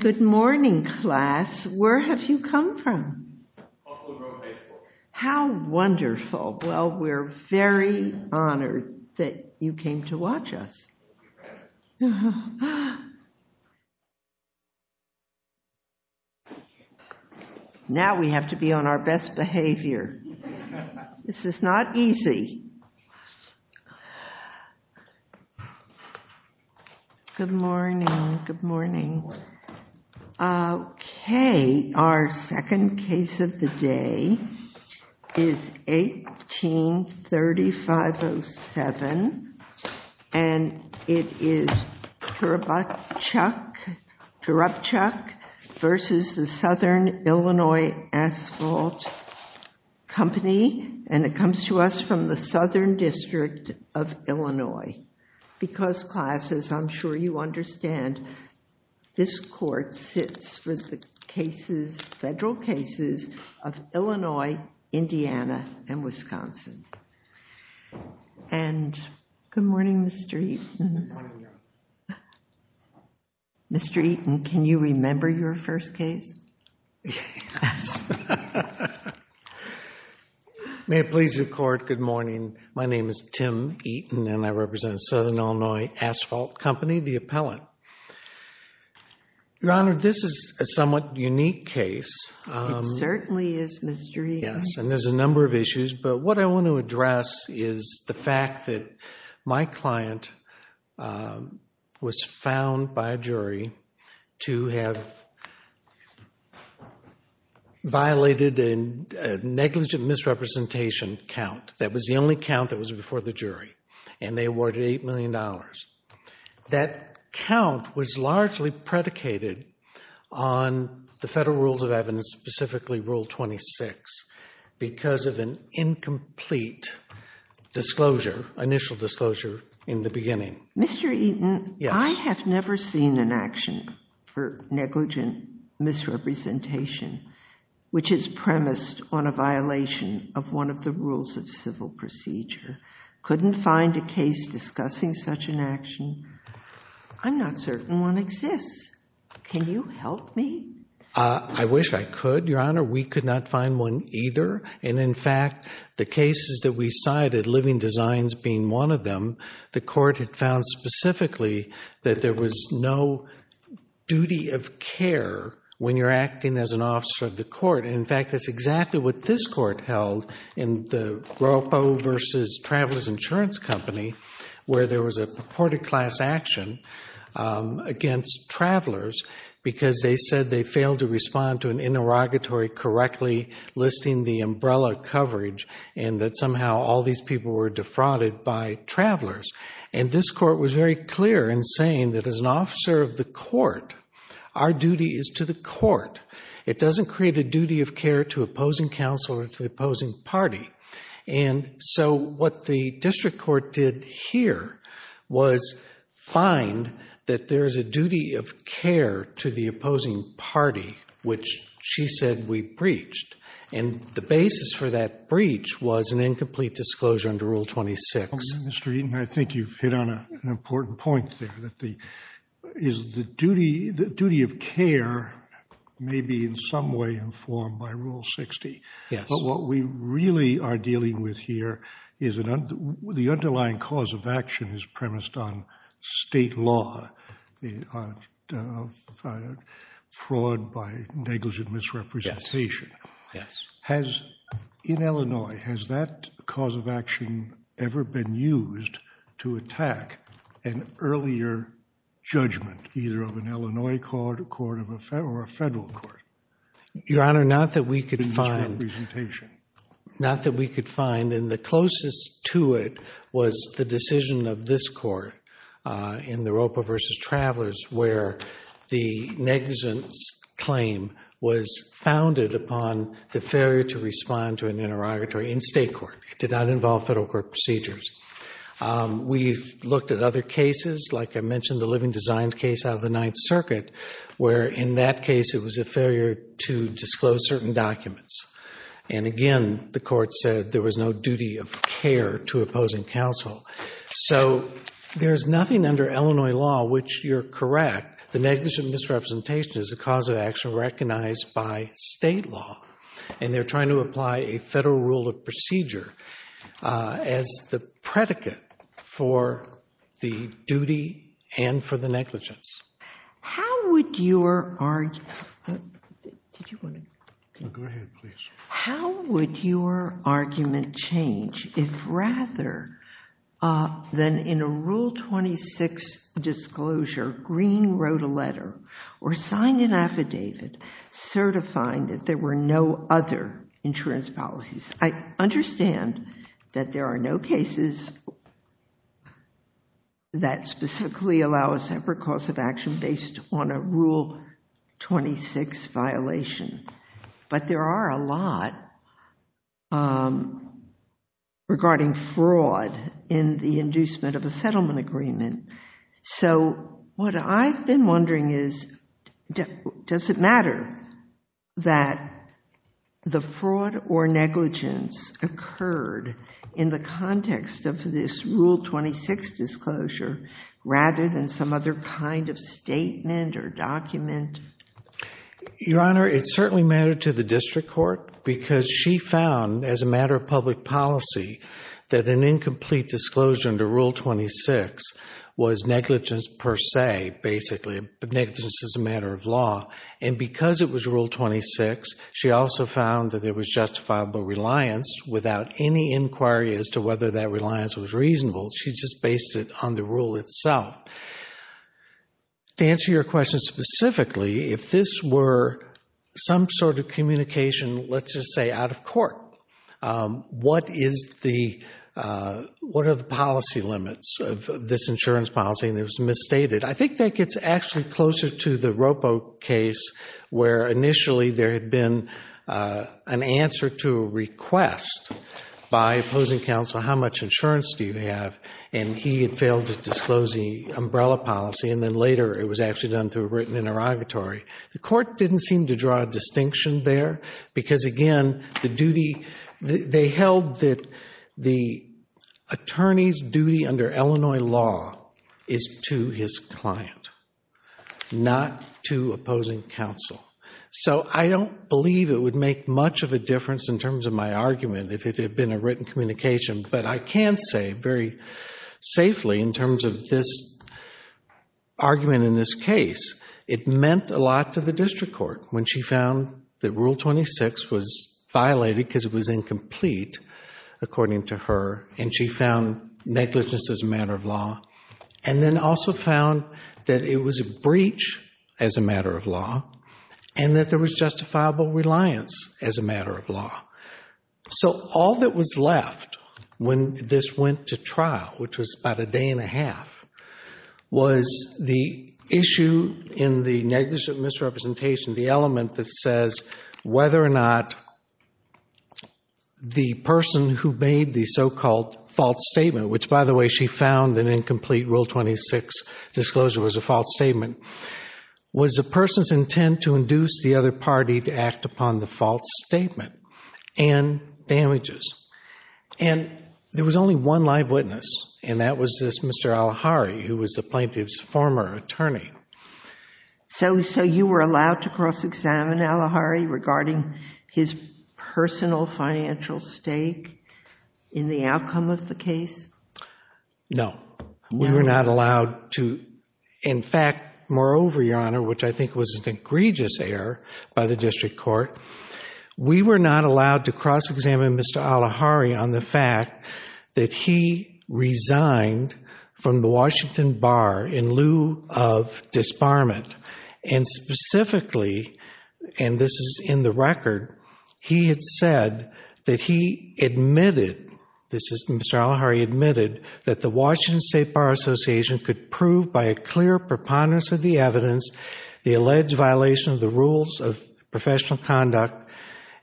Good morning, class. Where have you come from? Buffalo Grove High School. How wonderful. Well, we're very honored that you came to watch us. We're very proud of you. Now we have to be on our best behavior. This is not easy. Good morning, good morning. Okay, our second case of the day is 18-3507, and it is Turubchuk v. Southern Illinois Asphalt Company, and it comes to us from the Southern District of Illinois. Because, classes, I'm sure you understand, this court sits with the cases, federal cases, of Illinois, Indiana, and Wisconsin. And good morning, Mr. Eaton. Good morning. Mr. Eaton, can you remember your first case? Yes. May it please the court, good morning. My name is Tim Eaton, and I represent Southern Illinois Asphalt Company, the appellant. Your Honor, this is a somewhat unique case. It certainly is, Mr. Eaton. Yes, and there's a number of issues, but what I want to address is the fact that my client was found by a jury to have violated a negligent misrepresentation count. That was the only count that was before the jury, and they awarded $8 million. That count was largely predicated on the federal rules of evidence, specifically Rule 26, because of an incomplete initial disclosure in the beginning. Mr. Eaton, I have never seen an action for negligent misrepresentation, which is premised on a violation of one of the rules of civil procedure. Couldn't find a case discussing such an action. I'm not certain one exists. Can you help me? I wish I could, Your Honor. We could not find one either. And in fact, the cases that we cited, living designs being one of them, the court had found specifically that there was no duty of care when you're acting as an officer of the court. In fact, that's exactly what this court held in the Groppo v. Travelers Insurance Company, where there was a purported class action against travelers because they said they failed to respond to an interrogatory correctly listing the umbrella coverage and that somehow all these people were defrauded by travelers. And this court was very clear in saying that as an officer of the court, our duty is to the court. It doesn't create a duty of care to opposing counsel or to the opposing party. And so what the district court did here was find that there is a duty of care to the opposing party, which she said we breached. And the basis for that breach was an incomplete disclosure under Rule 26. Mr. Eaton, I think you've hit on an important point there, that the duty of care may be in some way informed by Rule 60. Yes. What we really are dealing with here is the underlying cause of action is premised on state law, fraud by negligent misrepresentation. Yes. In Illinois, has that cause of action ever been used to attack an earlier judgment, either of an Illinois court or a federal court? Your Honor, not that we could find. Misrepresentation. Not that we could find. And the closest to it was the decision of this court in the Roper v. Travelers where the negligence claim was founded upon the failure to respond to an interrogatory in state court. It did not involve federal court procedures. We've looked at other cases, like I mentioned the Living Designs case out of the Ninth Circuit, where in that case it was a failure to disclose certain documents. And again, the court said there was no duty of care to opposing counsel. So there's nothing under Illinois law which you're correct, the negligent misrepresentation is a cause of action recognized by state law, and they're trying to apply a federal rule of procedure as the predicate for the duty and for the negligence. How would your argument change if rather than in a Rule 26 disclosure Green wrote a letter or signed an affidavit certifying that there were no other insurance policies? I understand that there are no cases that specifically allow a separate cause of action based on a Rule 26 violation, but there are a lot regarding fraud in the inducement of a settlement agreement. So what I've been wondering is does it matter that the fraud or negligence occurred in the context of this Rule 26 disclosure rather than some other kind of statement or document? Your Honor, it certainly mattered to the district court because she found as a matter of public policy that an incomplete disclosure under Rule 26 was negligence per se, basically, but negligence is a matter of law. And because it was Rule 26, she also found that there was justifiable reliance without any inquiry as to whether that reliance was reasonable. She just based it on the rule itself. To answer your question specifically, if this were some sort of communication, let's just say out of court, what are the policy limits of this insurance policy? And it was misstated. I think that gets actually closer to the Roppo case where initially there had been an answer to a request by opposing counsel, how much insurance do you have? And he had failed to disclose the umbrella policy, and then later it was actually done through a written interrogatory. The court didn't seem to draw a distinction there because, again, the duty, they held that the attorney's duty under Illinois law is to his client, not to opposing counsel. So I don't believe it would make much of a difference in terms of my argument if it had been a written communication, but I can say very safely in terms of this argument in this case, it meant a lot to the district court when she found that Rule 26 was violated because it was incomplete, according to her, and she found negligence as a matter of law, and then also found that it was a breach as a matter of law, and that there was justifiable reliance as a matter of law. So all that was left when this went to trial, which was about a day and a half, was the issue in the negligent misrepresentation, the element that says whether or not the person who made the so-called false statement, which, by the way, she found an incomplete Rule 26 disclosure was a false statement, was the person's intent to induce the other party to act upon the false statement and damages. And there was only one live witness, and that was this Mr. Al-Ahari, who was the plaintiff's former attorney. So you were allowed to cross-examine Al-Ahari regarding his personal financial stake in the outcome of the case? No, we were not allowed to. In fact, moreover, Your Honor, which I think was an egregious error by the district court, we were not allowed to cross-examine Mr. Al-Ahari on the fact that he resigned from the Washington Bar in lieu of disbarment. And specifically, and this is in the record, he had said that he admitted, Mr. Al-Ahari admitted that the Washington State Bar Association could prove by a clear preponderance of the evidence the alleged violation of the rules of professional conduct,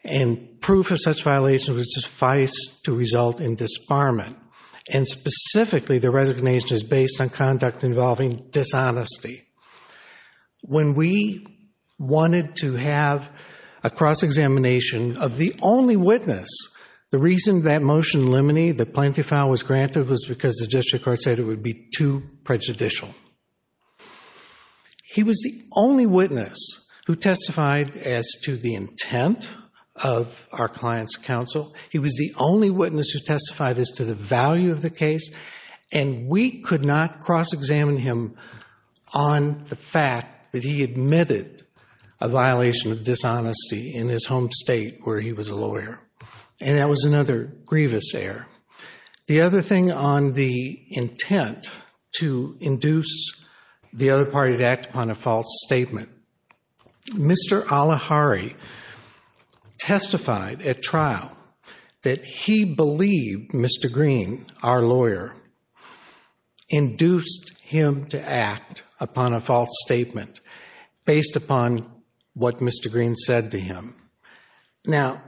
and proof of such violation would suffice to result in disbarment. And specifically, the resignation is based on conduct involving dishonesty. When we wanted to have a cross-examination of the only witness, the reason that motion limine the plaintiff's file was granted was because the district court said it would be too prejudicial. He was the only witness who testified as to the intent of our client's counsel. He was the only witness who testified as to the value of the case, and we could not cross-examine him on the fact that he admitted a violation of dishonesty in his home state where he was a lawyer. And that was another grievous error. The other thing on the intent to induce the other party to act upon a false statement, Mr. Al-Ahari testified at trial that he believed Mr. Green, our lawyer, induced him to act upon a false statement based upon what Mr. Green said to him. Now,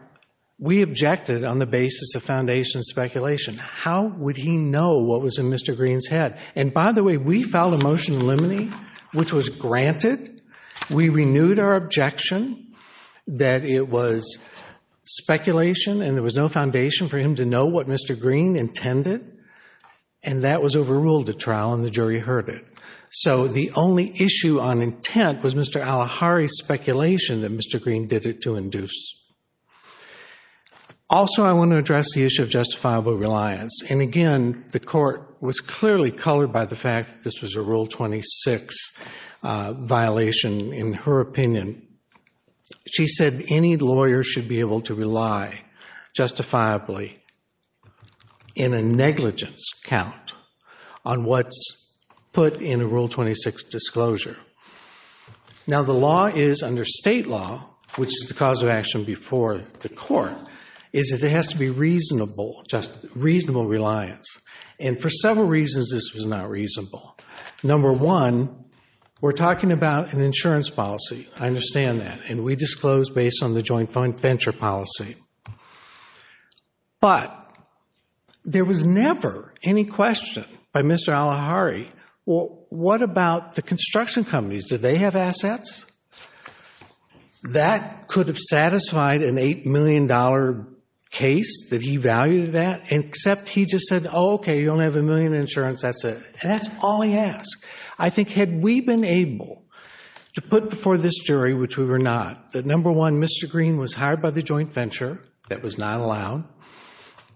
we objected on the basis of foundation speculation. How would he know what was in Mr. Green's head? And by the way, we filed a motion of limine, which was granted. We renewed our objection that it was speculation and there was no foundation for him to know what Mr. Green intended, and that was overruled at trial and the jury heard it. So the only issue on intent was Mr. Al-Ahari's speculation that Mr. Green did it to induce. Also, I want to address the issue of justifiable reliance. And again, the court was clearly colored by the fact that this was a Rule 26 violation in her opinion. She said any lawyer should be able to rely justifiably in a negligence count on what's put in a Rule 26 disclosure. Now, the law is under state law, which is the cause of action before the court, is that there has to be reasonable reliance. And for several reasons, this was not reasonable. Number one, we're talking about an insurance policy. I understand that. And we disclosed based on the joint venture policy. But there was never any question by Mr. Al-Ahari, well, what about the construction companies? Do they have assets? That could have satisfied an $8 million case that he valued that, except he just said, oh, okay, you only have a million in insurance, that's it. And that's all he asked. I think had we been able to put before this jury, which we were not, that number one, Mr. Green was hired by the joint venture, that was not allowed,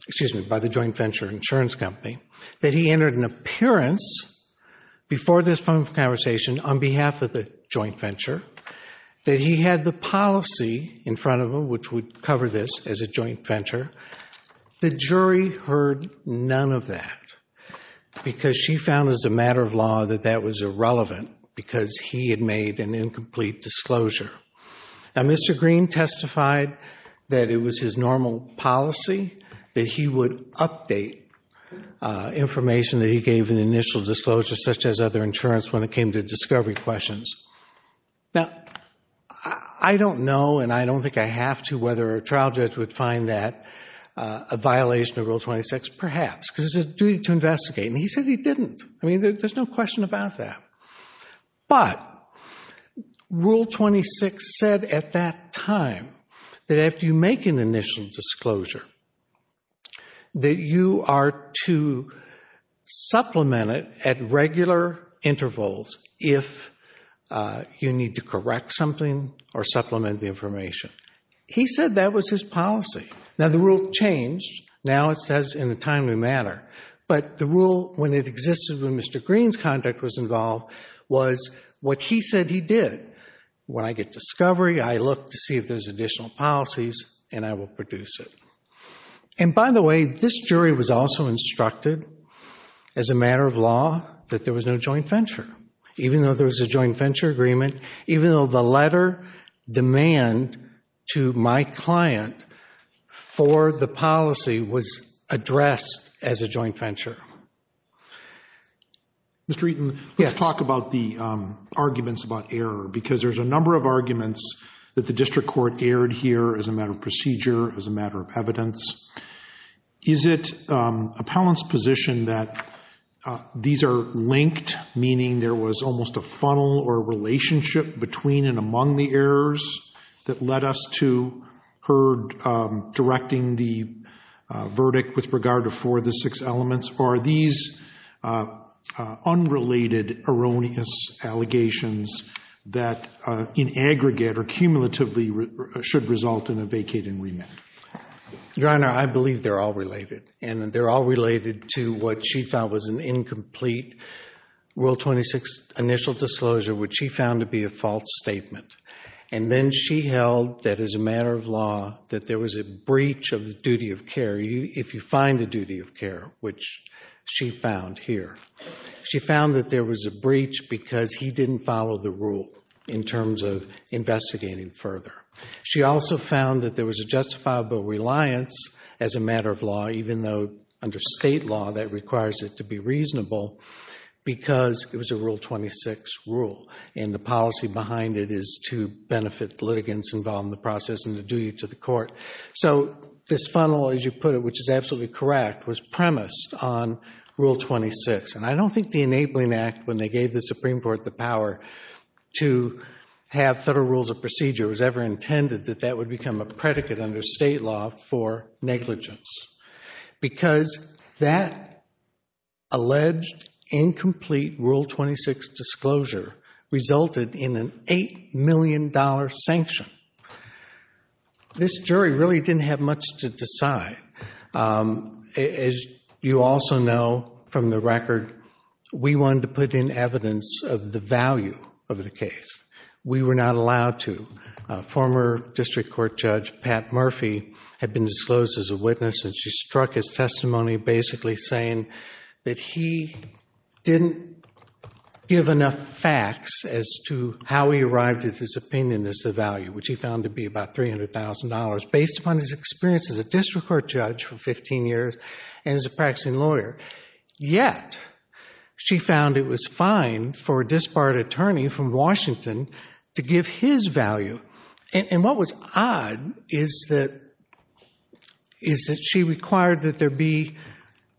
excuse me, by the joint venture insurance company, that he entered an appearance before this phone conversation on behalf of the joint venture, that he had the policy in front of him which would cover this as a joint venture, the jury heard none of that because she found as a matter of law that that was irrelevant because he had made an incomplete disclosure. Now, Mr. Green testified that it was his normal policy that he would update information that he gave in the initial disclosure, such as other insurance when it came to discovery questions. Now, I don't know and I don't think I have to whether a trial judge would find that a violation of Rule 26, perhaps, because it's a duty to investigate. And he said he didn't. I mean, there's no question about that. But Rule 26 said at that time that after you make an initial disclosure, that you are to supplement it at regular intervals if you need to correct something or supplement the information. He said that was his policy. Now, the rule changed. Now, it says in a timely manner. But the rule, when it existed when Mr. Green's contact was involved, was what he said he did. When I get discovery, I look to see if there's additional policies and I will produce it. And by the way, this jury was also instructed as a matter of law that there was no joint venture, even though there was a joint venture agreement, even though the letter demand to my client for the policy was addressed as a joint venture. Yes, sir. Mr. Eaton? Yes. Let's talk about the arguments about error, because there's a number of arguments that the district court aired here as a matter of procedure, as a matter of evidence. Is it appellant's position that these are linked, meaning there was almost a funnel or a relationship between and among the errors that led us to her directing the verdict with regard to four of the six elements? Or are these unrelated erroneous allegations that in aggregate or cumulatively should result in a vacating remit? Your Honor, I believe they're all related. And they're all related to what she found was an incomplete Rule 26 initial disclosure, which she found to be a false statement. And then she held that as a matter of law that there was a breach of the duty of care, if you find a duty of care, which she found here. She found that there was a breach because he didn't follow the rule in terms of investigating further. She also found that there was a justifiable reliance as a matter of law, even though under state law that requires it to be reasonable because it was a Rule 26 rule and the policy behind it is to benefit the litigants involved in the process and the duty to the court. So this funnel, as you put it, which is absolutely correct, was premised on Rule 26. And I don't think the Enabling Act, when they gave the Supreme Court the power to have federal rules of procedure, was ever intended that that would become a predicate under state law for negligence because that alleged incomplete Rule 26 disclosure resulted in an $8 million sanction. This jury really didn't have much to decide. As you also know from the record, we wanted to put in evidence of the value of the case. We were not allowed to. Former District Court Judge Pat Murphy had been disclosed as a witness and she struck his testimony basically saying that he didn't give enough facts as to how he arrived at his opinion as to the value, which he found to be about $300,000, based upon his experience as a District Court Judge for 15 years and as a practicing lawyer. Yet she found it was fine for a disbarred attorney from Washington to give his value. And what was odd is that she required that there be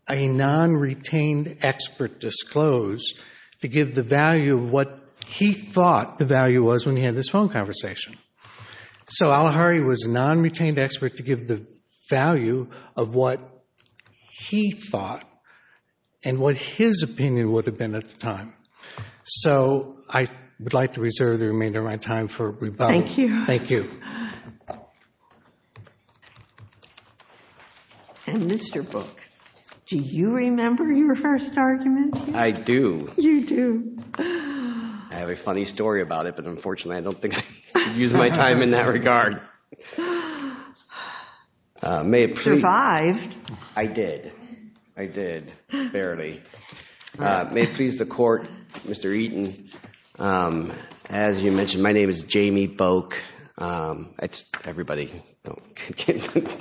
a non-retained expert disclosed to give the value of what he thought the value was when he had this phone conversation. So Al Ahari was a non-retained expert to give the value of what he thought and what his opinion would have been at the time. So I would like to reserve the remainder of my time for rebuttal. Thank you. Thank you. And Mr. Book, do you remember your first argument? I do. You do. I have a funny story about it, but unfortunately I don't think I could use my time in that regard. You survived. I did. Barely. May it please the Court, Mr. Eaton, as you mentioned, my name is Jamie Book. Everybody,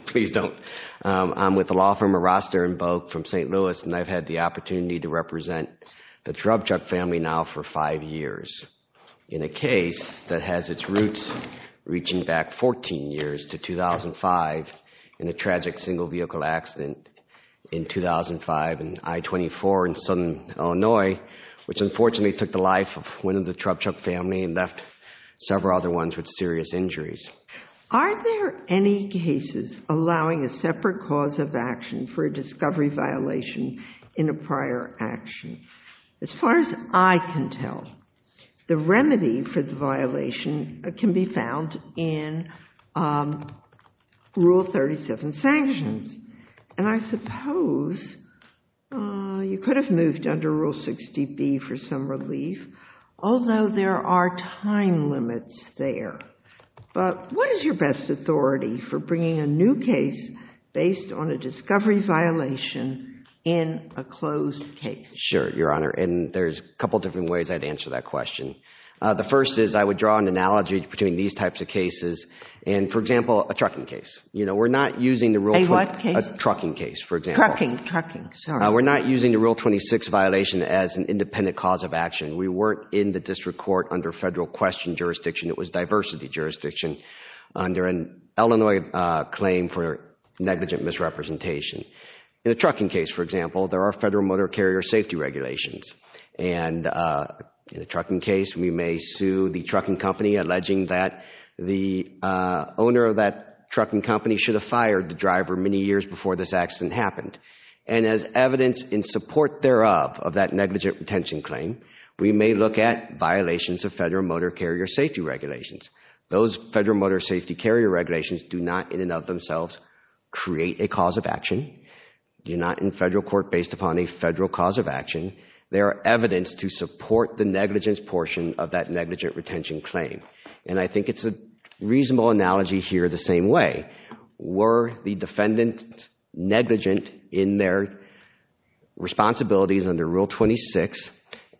please don't. I'm with the law firm of Roster and Book from St. Louis, and I've had the opportunity to represent the Drubchuck family now for five years in a case that has its roots reaching back 14 years to 2005 in a tragic single-vehicle accident in 2005 in I-24 in Southern Illinois, which unfortunately took the life of one of the Drubchuck family and left several other ones with serious injuries. Are there any cases allowing a separate cause of action for a discovery violation in a prior action? As far as I can tell, the remedy for the violation can be found in Rule 37 sanctions, and I suppose you could have moved under Rule 60B for some relief, although there are time limits there. But what is your best authority for bringing a new case based on a discovery violation in a closed case? Sure, Your Honor, and there's a couple different ways I'd answer that question. The first is I would draw an analogy between these types of cases, and for example, a trucking case. A what case? A trucking case, for example. Trucking, trucking, sorry. We're not using the Rule 26 violation as an independent cause of action. We weren't in the district court under federal question jurisdiction. It was diversity jurisdiction under an Illinois claim for negligent misrepresentation. In a trucking case, for example, there are federal motor carrier safety regulations, and in a trucking case, we may sue the trucking company alleging that the owner of that trucking company should have fired the driver many years before this accident happened. And as evidence in support thereof of that negligent retention claim, we may look at violations of federal motor carrier safety regulations. Those federal motor safety carrier regulations do not in and of themselves create a cause of action. They're not in federal court based upon a federal cause of action. They are evidence to support the negligence portion of that negligent retention claim. And I think it's a reasonable analogy here the same way. Were the defendant negligent in their responsibilities under Rule 26,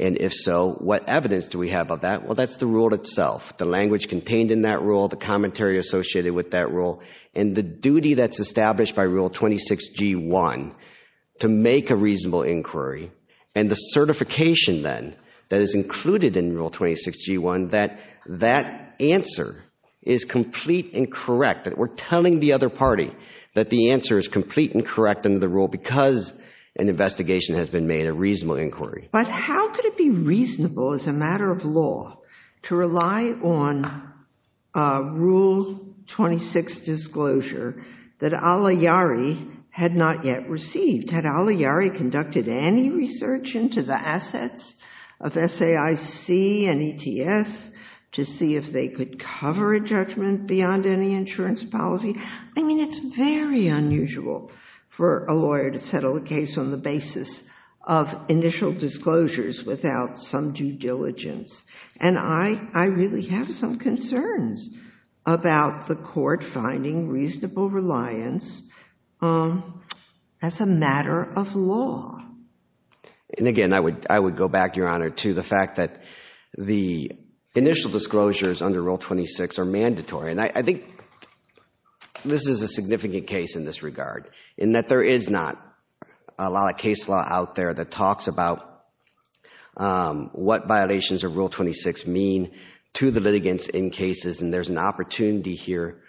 and if so, what evidence do we have of that? Well, that's the rule itself, the language contained in that rule, the commentary associated with that rule, and the duty that's established by Rule 26G1 to make a reasonable inquiry, and the certification then that is included in Rule 26G1 that that answer is complete and correct. We're telling the other party that the answer is complete and correct under the rule because an investigation has been made, a reasonable inquiry. But how could it be reasonable as a matter of law to rely on Rule 26, disclosure that Al Iyari had not yet received? Had Al Iyari conducted any research into the assets of SAIC and ETS to see if they could cover a judgment beyond any insurance policy? I mean, it's very unusual for a lawyer to settle a case on the basis of initial disclosures without some due diligence. And I really have some concerns about the court finding reasonable reliance as a matter of law. And again, I would go back, Your Honor, to the fact that the initial disclosures under Rule 26 are mandatory, and I think this is a significant case in this regard in that there is not a lot of case law out there that talks about what violations of Rule 26 mean to the litigants in cases. And there's an opportunity here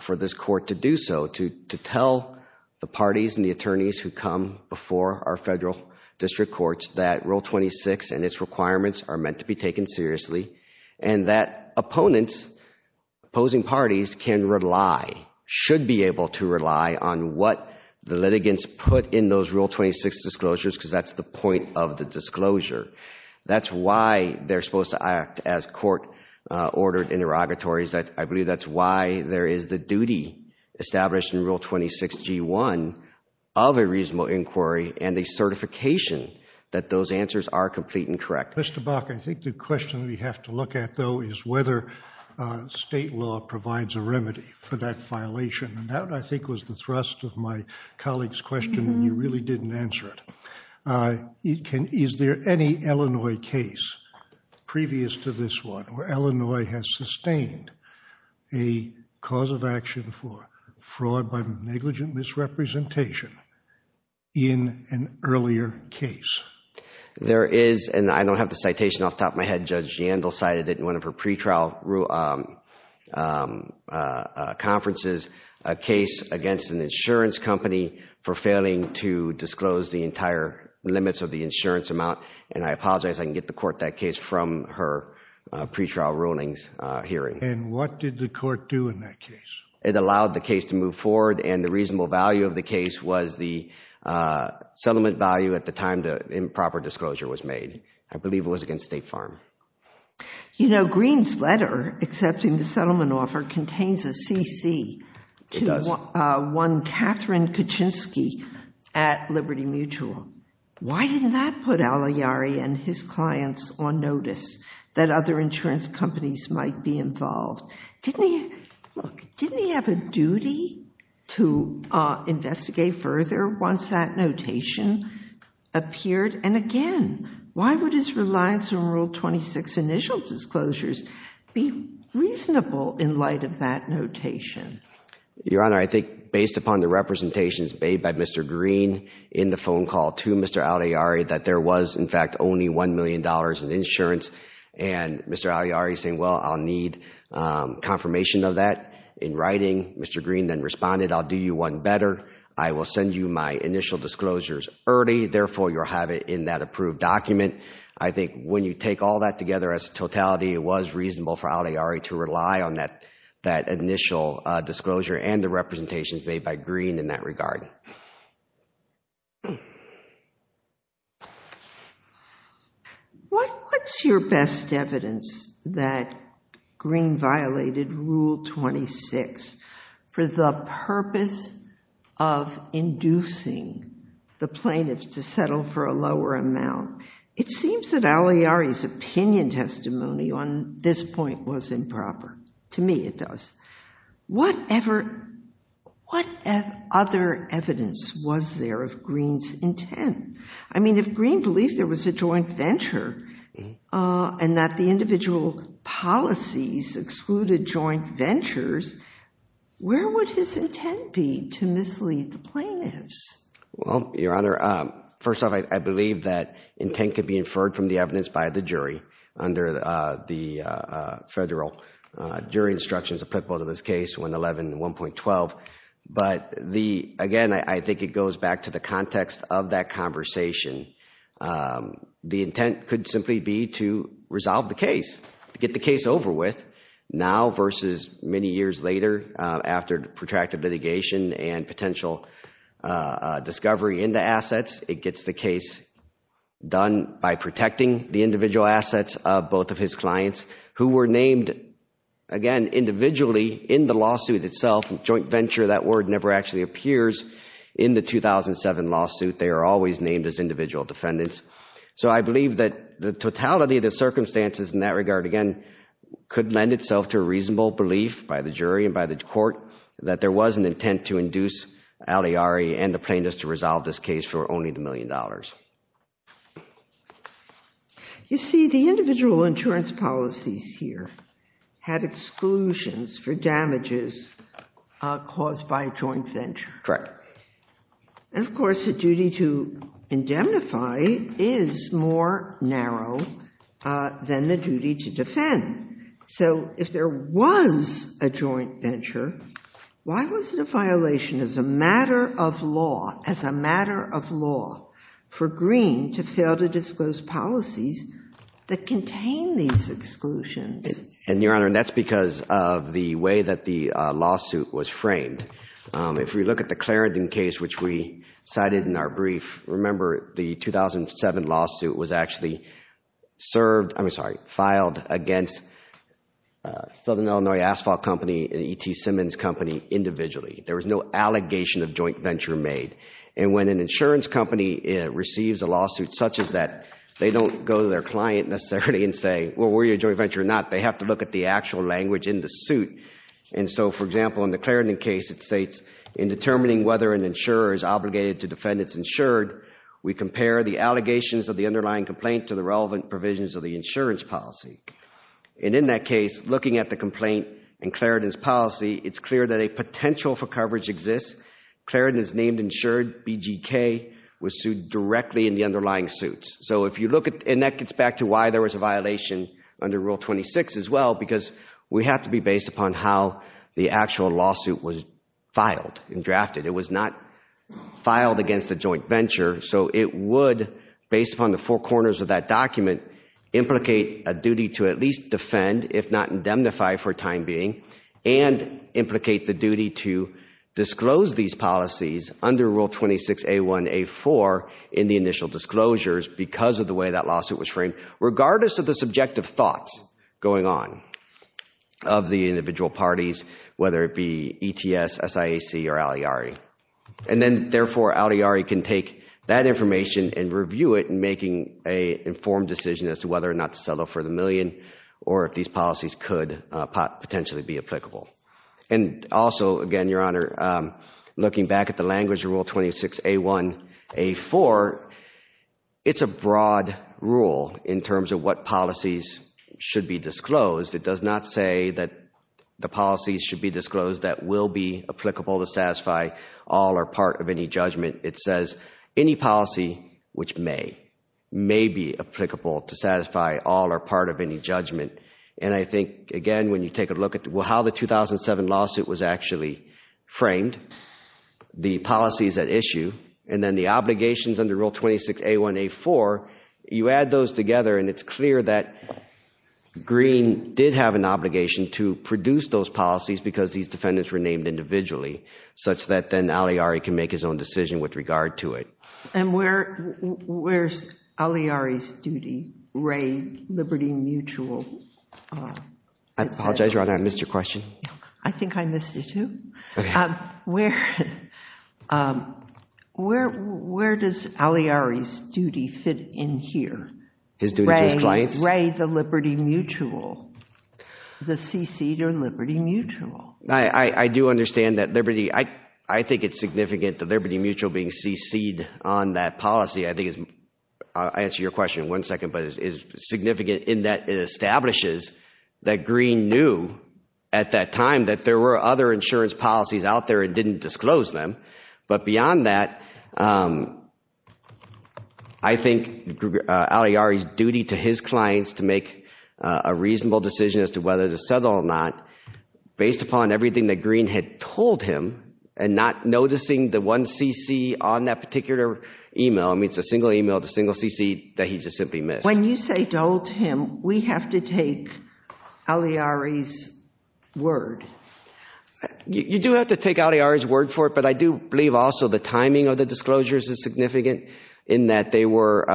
for this court to do so, to tell the parties and the attorneys who come before our federal district courts that Rule 26 and its requirements are meant to be taken seriously and that opponents, opposing parties, can rely, should be able to rely on what the litigants put in those Rule 26 disclosures because that's the point of the disclosure. That's why they're supposed to act as court-ordered interrogatories. I believe that's why there is the duty established in Rule 26G1 of a reasonable inquiry and a certification that those answers are complete and correct. Mr. Bach, I think the question we have to look at, though, is whether state law provides a remedy for that violation, and that, I think, was the thrust of my colleague's question, and you really didn't answer it. Is there any Illinois case previous to this one where Illinois has sustained a cause of action for fraud by negligent misrepresentation in an earlier case? There is, and I don't have the citation off the top of my head. Judge Jandel cited it in one of her pretrial conferences, a case against an insurance company for failing to disclose the entire limits of the insurance amount, and I apologize. I can get the court that case from her pretrial rulings hearing. And what did the court do in that case? It allowed the case to move forward, and the reasonable value of the case was the settlement value at the time that improper disclosure was made. I believe it was against State Farm. You know, Greene's letter accepting the settlement offer contains a CC to one Catherine Kaczynski at Liberty Mutual. Why didn't that put Al Iyari and his clients on notice that other insurance companies might be involved? Look, didn't he have a duty to investigate further once that notation appeared? And again, why would his reliance on Rule 26 initial disclosures be reasonable in light of that notation? Your Honor, I think based upon the representations made by Mr. Greene in the phone call to Mr. Al Iyari that there was, in fact, only $1 million in insurance, and Mr. Al Iyari saying, well, I'll need confirmation of that in writing. Mr. Greene then responded, I'll do you one better. I will send you my initial disclosures early. Therefore, you'll have it in that approved document. I think when you take all that together as totality, it was reasonable for Al Iyari to rely on that initial disclosure and the representations made by Greene in that regard. What's your best evidence that Greene violated Rule 26 for the purpose of inducing the plaintiffs to settle for a lower amount? It seems that Al Iyari's opinion testimony on this point was improper. To me, it does. What other evidence was there of Greene's intent? I mean, if Greene believed there was a joint venture and that the individual policies excluded joint ventures, where would his intent be to mislead the plaintiffs? Well, Your Honor, first off, I believe that intent could be inferred from the evidence by the jury under the federal jury instructions applicable to this case, 111 and 1.12. But again, I think it goes back to the context of that conversation. The intent could simply be to resolve the case, to get the case over with now versus many years later after protracted litigation and potential discovery in the assets. It gets the case done by protecting the individual assets of both of his clients who were named, again, individually in the lawsuit itself. Joint venture, that word, never actually appears in the 2007 lawsuit. They are always named as individual defendants. So I believe that the totality of the circumstances in that regard, again, could lend itself to a reasonable belief by the jury and by the court that there was an intent to induce Aliari and the plaintiffs to resolve this case for only the million dollars. You see, the individual insurance policies here had exclusions for damages caused by a joint venture. Correct. Of course, the duty to indemnify is more narrow than the duty to defend. So if there was a joint venture, why was it a violation as a matter of law, as a matter of law for Green to fail to disclose policies that contain these exclusions? And, Your Honor, that's because of the way that the lawsuit was framed. If we look at the Clarendon case, which we cited in our brief, remember the 2007 lawsuit was actually served, I'm sorry, filed against Southern Illinois Asphalt Company and E.T. Simmons Company individually. There was no allegation of joint venture made. And when an insurance company receives a lawsuit such as that, they don't go to their client necessarily and say, well, were you a joint venture or not? They have to look at the actual language in the suit. And so, for example, in the Clarendon case, it states, in determining whether an insurer is obligated to defend its insured, we compare the allegations of the underlying complaint to the relevant provisions of the insurance policy. And in that case, looking at the complaint and Clarendon's policy, it's clear that a potential for coverage exists. Clarendon is named insured. BGK was sued directly in the underlying suits. So if you look at, and that gets back to why there was a violation under Rule 26 as well, because we have to be based upon how the actual lawsuit was filed and drafted. It was not filed against a joint venture, so it would, based upon the four corners of that document, implicate a duty to at least defend, if not indemnify for the time being, and implicate the duty to disclose these policies under Rule 26A1A4 in the initial disclosures because of the way that lawsuit was framed, regardless of the subjective thoughts going on of the individual parties, whether it be ETS, SIAC, or Al Iyari. And then, therefore, Al Iyari can take that information and review it in making an informed decision as to whether or not to settle for the million or if these policies could potentially be applicable. And also, again, Your Honor, looking back at the language of Rule 26A1A4, it's a broad rule in terms of what policies should be disclosed. It does not say that the policies should be disclosed that will be applicable to satisfy all or part of any judgment. It says any policy, which may, may be applicable to satisfy all or part of any judgment. And I think, again, when you take a look at how the 2007 lawsuit was actually framed, the policies at issue, and then the obligations under Rule 26A1A4, you add those together and it's clear that Green did have an obligation to produce those policies because these defendants were named individually, such that then Al Iyari can make his own decision with regard to it. And where's Al Iyari's duty? Raid, liberty, mutual? I apologize, Your Honor, I missed your question. I think I missed it, too. Where does Al Iyari's duty fit in here? His duty to his clients? Raid, the liberty, mutual? The cc'd or liberty, mutual? I do understand that liberty, I think it's significant, the liberty, mutual being cc'd on that policy, I think is, I'll answer your question in one second, but is significant in that it establishes that Green knew at that time that there were other insurance policies out there and didn't disclose them. But beyond that, I think Al Iyari's duty to his clients to make a reasonable decision as to whether to settle or not, based upon everything that Green had told him, and not noticing the one cc on that particular email, I mean it's a single email, the single cc that he just simply missed. When you say told him, we have to take Al Iyari's word. You do have to take Al Iyari's word for it, but I do believe also the timing of the disclosures is significant in that they were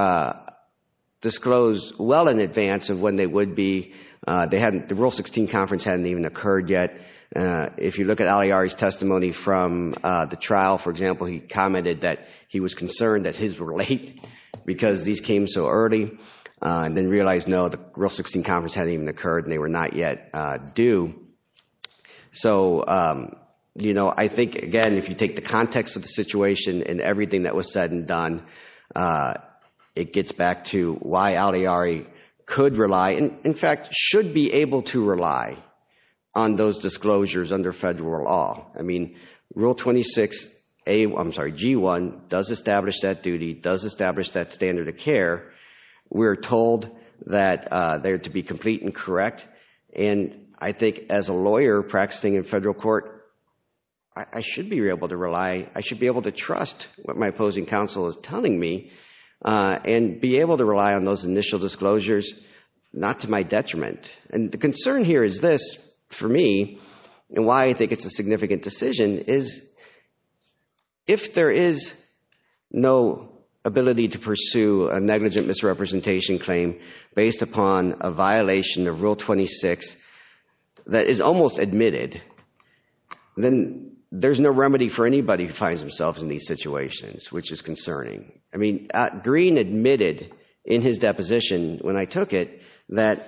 disclosed well in advance of when they would be. The Rule 16 conference hadn't even occurred yet. If you look at Al Iyari's testimony from the trial, for example, he commented that he was concerned that his were late because these came so early and then realized, no, the Rule 16 conference hadn't even occurred and they were not yet due. So I think, again, if you take the context of the situation and everything that was said and done, it gets back to why Al Iyari could rely, in fact should be able to rely on those disclosures under federal law. I mean, Rule 26, I'm sorry, G1 does establish that duty, does establish that standard of care. We're told that they're to be complete and correct, and I think as a lawyer practicing in federal court, I should be able to rely, I should be able to trust what my opposing counsel is telling me and be able to rely on those initial disclosures, not to my detriment. And the concern here is this, for me, and why I think it's a significant decision, is if there is no ability to pursue a negligent misrepresentation claim based upon a violation of Rule 26 that is almost admitted, then there's no remedy for anybody who finds themselves in these situations, which is concerning. I mean, Green admitted in his deposition when I took it that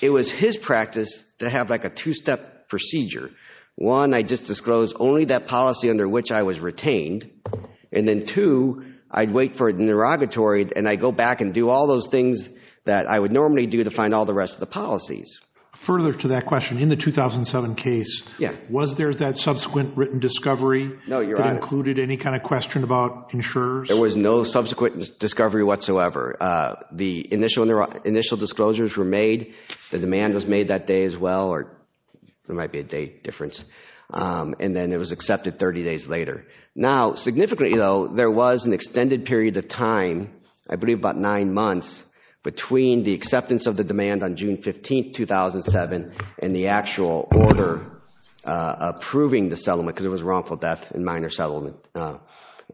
it was his practice to have like a two-step procedure. One, I just disclose only that policy under which I was retained, and then two, I'd wait for an interrogatory and I'd go back and do all those things that I would normally do to find all the rest of the policies. Further to that question, in the 2007 case, was there that subsequent written discovery that included any kind of question about insurers? There was no subsequent discovery whatsoever. The initial disclosures were made, the demand was made that day as well, or there might be a date difference, and then it was accepted 30 days later. Now, significantly though, there was an extended period of time, I believe about nine months, between the approving the settlement, because it was a wrongful death and minor settlement,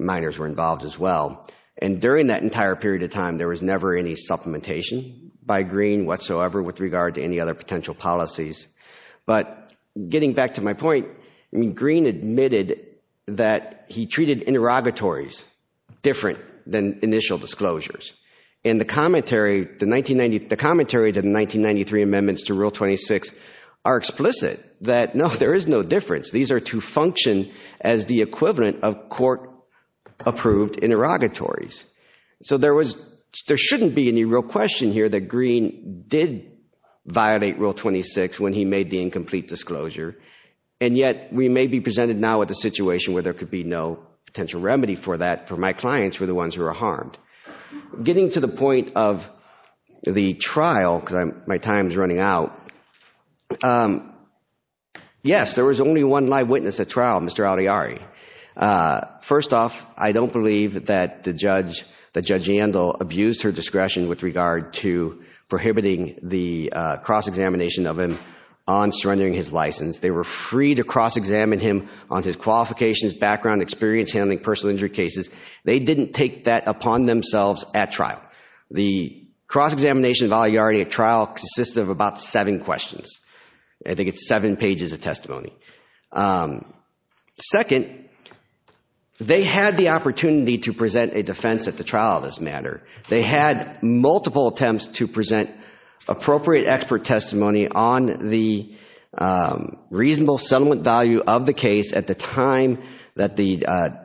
minors were involved as well. And during that entire period of time, there was never any supplementation by Green whatsoever with regard to any other potential policies. But getting back to my point, Green admitted that he treated interrogatories different than initial disclosures. And the commentary to the 1993 amendments to Rule 26 are explicit, that no, there is no difference. These are to function as the equivalent of court approved interrogatories. So there shouldn't be any real question here that Green did violate Rule 26 when he made the incomplete disclosure, and yet we may be presented now with a situation where there could be no potential remedy for that, for my clients who are the ones who are harmed. Getting to the point of the trial, because my time is running out, yes, there was only one live witness at trial, Mr. Aldari. First off, I don't believe that Judge Yandel abused her discretion with regard to prohibiting the cross-examination of him on surrendering his license. They were free to cross-examine him on his qualifications, background, experience handling personal injury cases. They didn't take that upon themselves at trial. The cross-examination of Aldari at trial consists of about seven questions. I think it's seven pages of testimony. Second, they had the opportunity to present a defense at the trial on this matter. They had multiple attempts to present appropriate expert testimony on the reasonable settlement value of the case at the time that the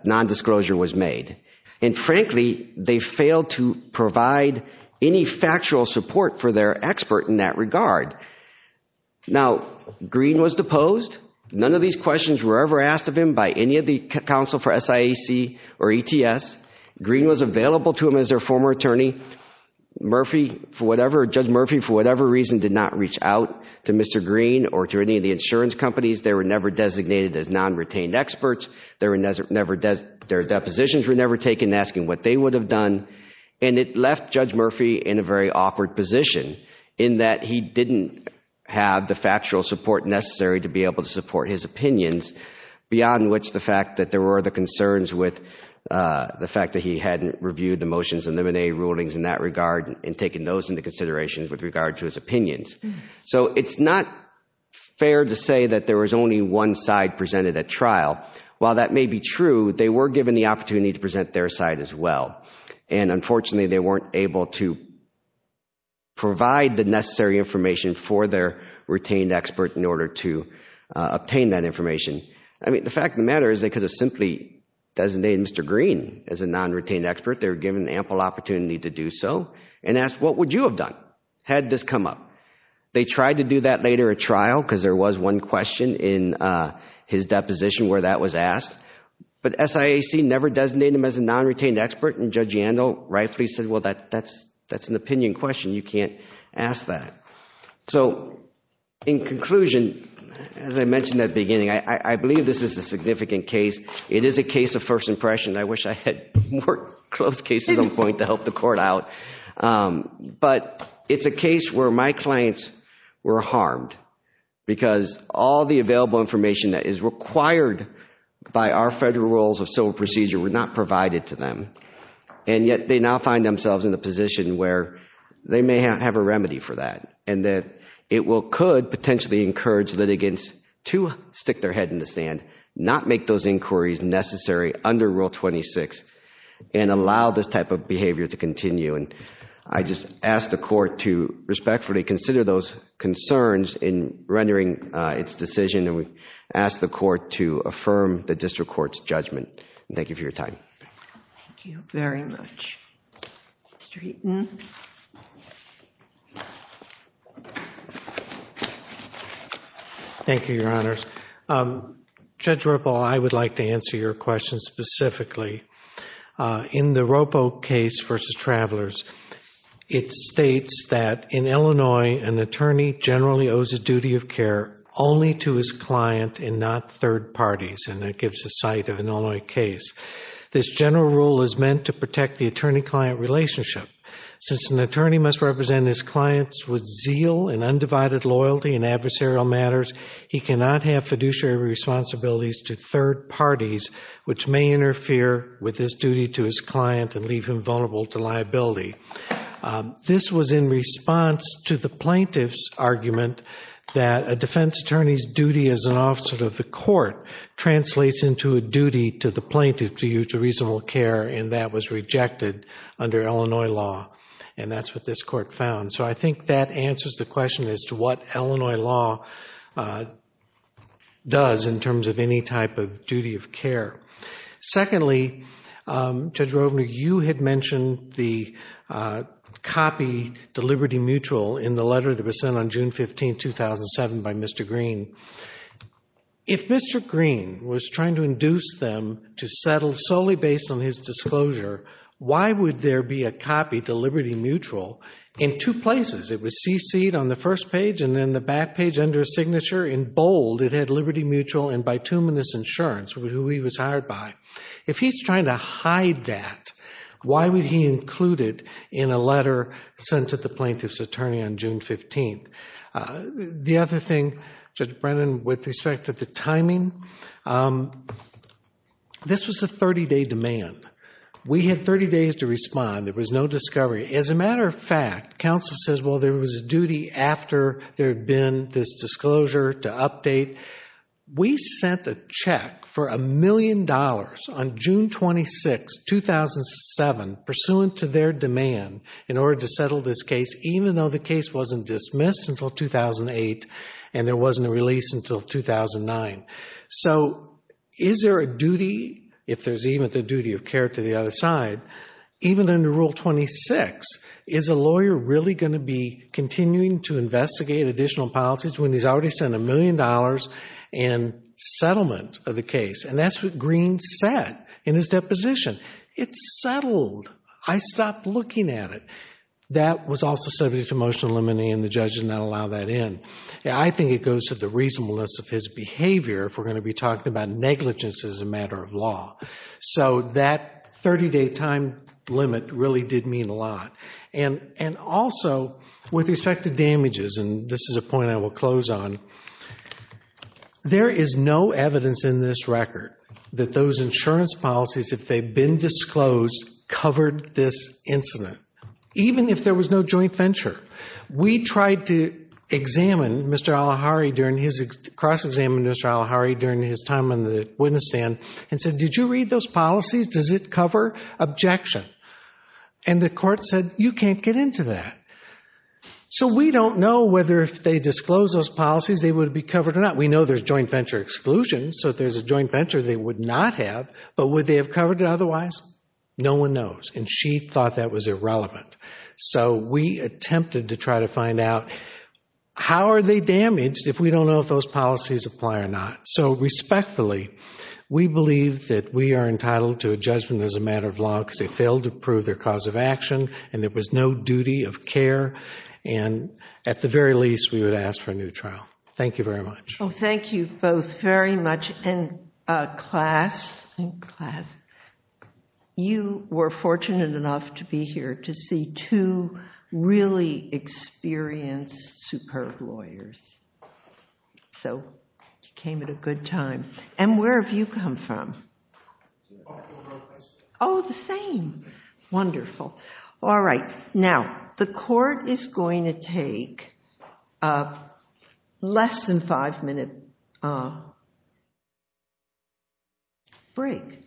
nondisclosure was made. And frankly, they failed to provide any factual support for their expert in that regard. Now, Green was deposed. None of these questions were ever asked of him by any of the counsel for SIAC or ETS. Green was deposed and did not reach out to Mr. Green or to any of the insurance companies. They were never designated as non-retained experts. Their depositions were never taken asking what they would have done. And it left Judge Murphy in a very awkward position in that he didn't have the factual support necessary to be able to support his opinions, beyond which the fact that there were the concerns with the fact that he hadn't reviewed the motions and limine rulings in that regard and taken those into consideration with regard to his opinions. So it's not fair to say that there was only one side presented at trial. While that may be true, they were given the opportunity to present their side as well. And unfortunately, they weren't able to provide the necessary information for their retained expert in order to obtain that information. I mean, the fact of the matter is they could have simply designated Mr. Green as a non-retained expert. They were given ample opportunity to do so and asked what would you have done had this come up. They tried to do that later at trial because there was one question in his deposition where that was asked. But SIAC never designated him as a non-retained expert and Judge Yandel rightfully said, well, that's an opinion question. You can't ask that. So in conclusion, as I mentioned at the beginning, I believe this is a significant case. It is a case of first impression. I wish I had more closed cases on point to help the court out. But it's a case where my clients were harmed because all the available information that is required by our federal rules of civil procedure were not provided to them. And yet they now find themselves in a position where they may have a remedy for that. And that it could potentially encourage litigants to stick their head in the sand, not make those inquiries necessary under Rule 26 and allow this type of behavior to continue. And I just ask the court to respectfully consider those concerns in rendering its decision. And we ask the court to affirm the district court's judgment. Thank you for your time. Thank you very much, Mr. Heaton. Thank you, Your Honors. Judge Ropo, I would like to answer your question specifically. In the Ropo case versus Travelers, it states that in Illinois, an attorney generally owes a duty of care only to his client and not third parties. And that gives the site of an Illinois case. This general rule is meant to protect the attorney-client relationship. Since an attorney must represent his clients with zeal and undivided loyalty in adversarial matters, he cannot have fiduciary responsibilities to third parties which may interfere with his duty to his client and leave him vulnerable to liability. This was in response to the plaintiff's argument that a defense attorney's duty as an officer of the court translates into a duty to the plaintiff to use a reasonable care, and that was rejected under Illinois law. And that's what this court found. So I think that answers the question as to what Illinois law does in terms of any type of duty of care. Secondly, Judge Ropo, you had mentioned the copy, Deliberty Mutual, in the letter that was sent on June 15, 2007 by Mr. Green. If Mr. Green was trying to induce them to settle solely based on his disclosure, why would there be a copy, Deliberty Mutual, in two places? It was cc'd on the first page and then the back page under signature. In bold, it had Liberty Mutual and Bituminous Insurance, who he was hired by. If he's trying to hide that, why would he include it in a letter sent to the plaintiff's attorney on June 15? The other thing, Judge Brennan, with respect to the timing, this was a 30-day demand. We had 30 days to respond. There was no discovery. As a matter of fact, counsel says, well, there was a duty after there had been this disclosure to update. We sent a check for a million dollars on June 26, 2007, pursuant to their demand in order to settle this case, even though the case wasn't dismissed until 2008 and there wasn't a release until 2009. So is there a duty, if there's even the duty of care to the other side, even under Rule 26, is a lawyer really going to be continuing to investigate additional policies when he's already sent a million dollars in settlement of the case? And that's what Green said in his deposition. It's settled. I stopped looking at it. That was also subject to motion to eliminate and the judge did not allow that in. I think it goes to the reasonableness of his behavior if we're going to be talking about negligence as a matter of law. So that 30-day time limit really did mean a lot. And also, with respect to damages, and this is a point I will close on, there is no evidence in this record that those insurance policies, if they've been disclosed, covered this incident, even if there was no joint venture. We tried to examine Mr. Alahari during his cross-examination, Mr. Alahari during his time on the witness stand, and said, did you read those policies? Does it cover objection? And the court said, you can't get into that. So we don't know whether if they disclosed those policies they would be covered or not. We know there's joint venture exclusion, so if there's a joint venture they would not have, but would they have covered it otherwise? No one knows. And she thought that was irrelevant. So we attempted to try to find out, how are they damaged if we don't know if those policies apply or not? So respectfully, we believe that we are entitled to a judgment as a matter of law because they failed to prove their cause of action and there was no duty of care. And at the very least, we would ask for a new trial. Thank you very much. Thank you both very much. And class, you were fortunate enough to be here to see two really experienced, superb lawyers. So you came at a good time. And where have you come from? Oh, the same. Wonderful. Now, the court is going to take a less than five minute break.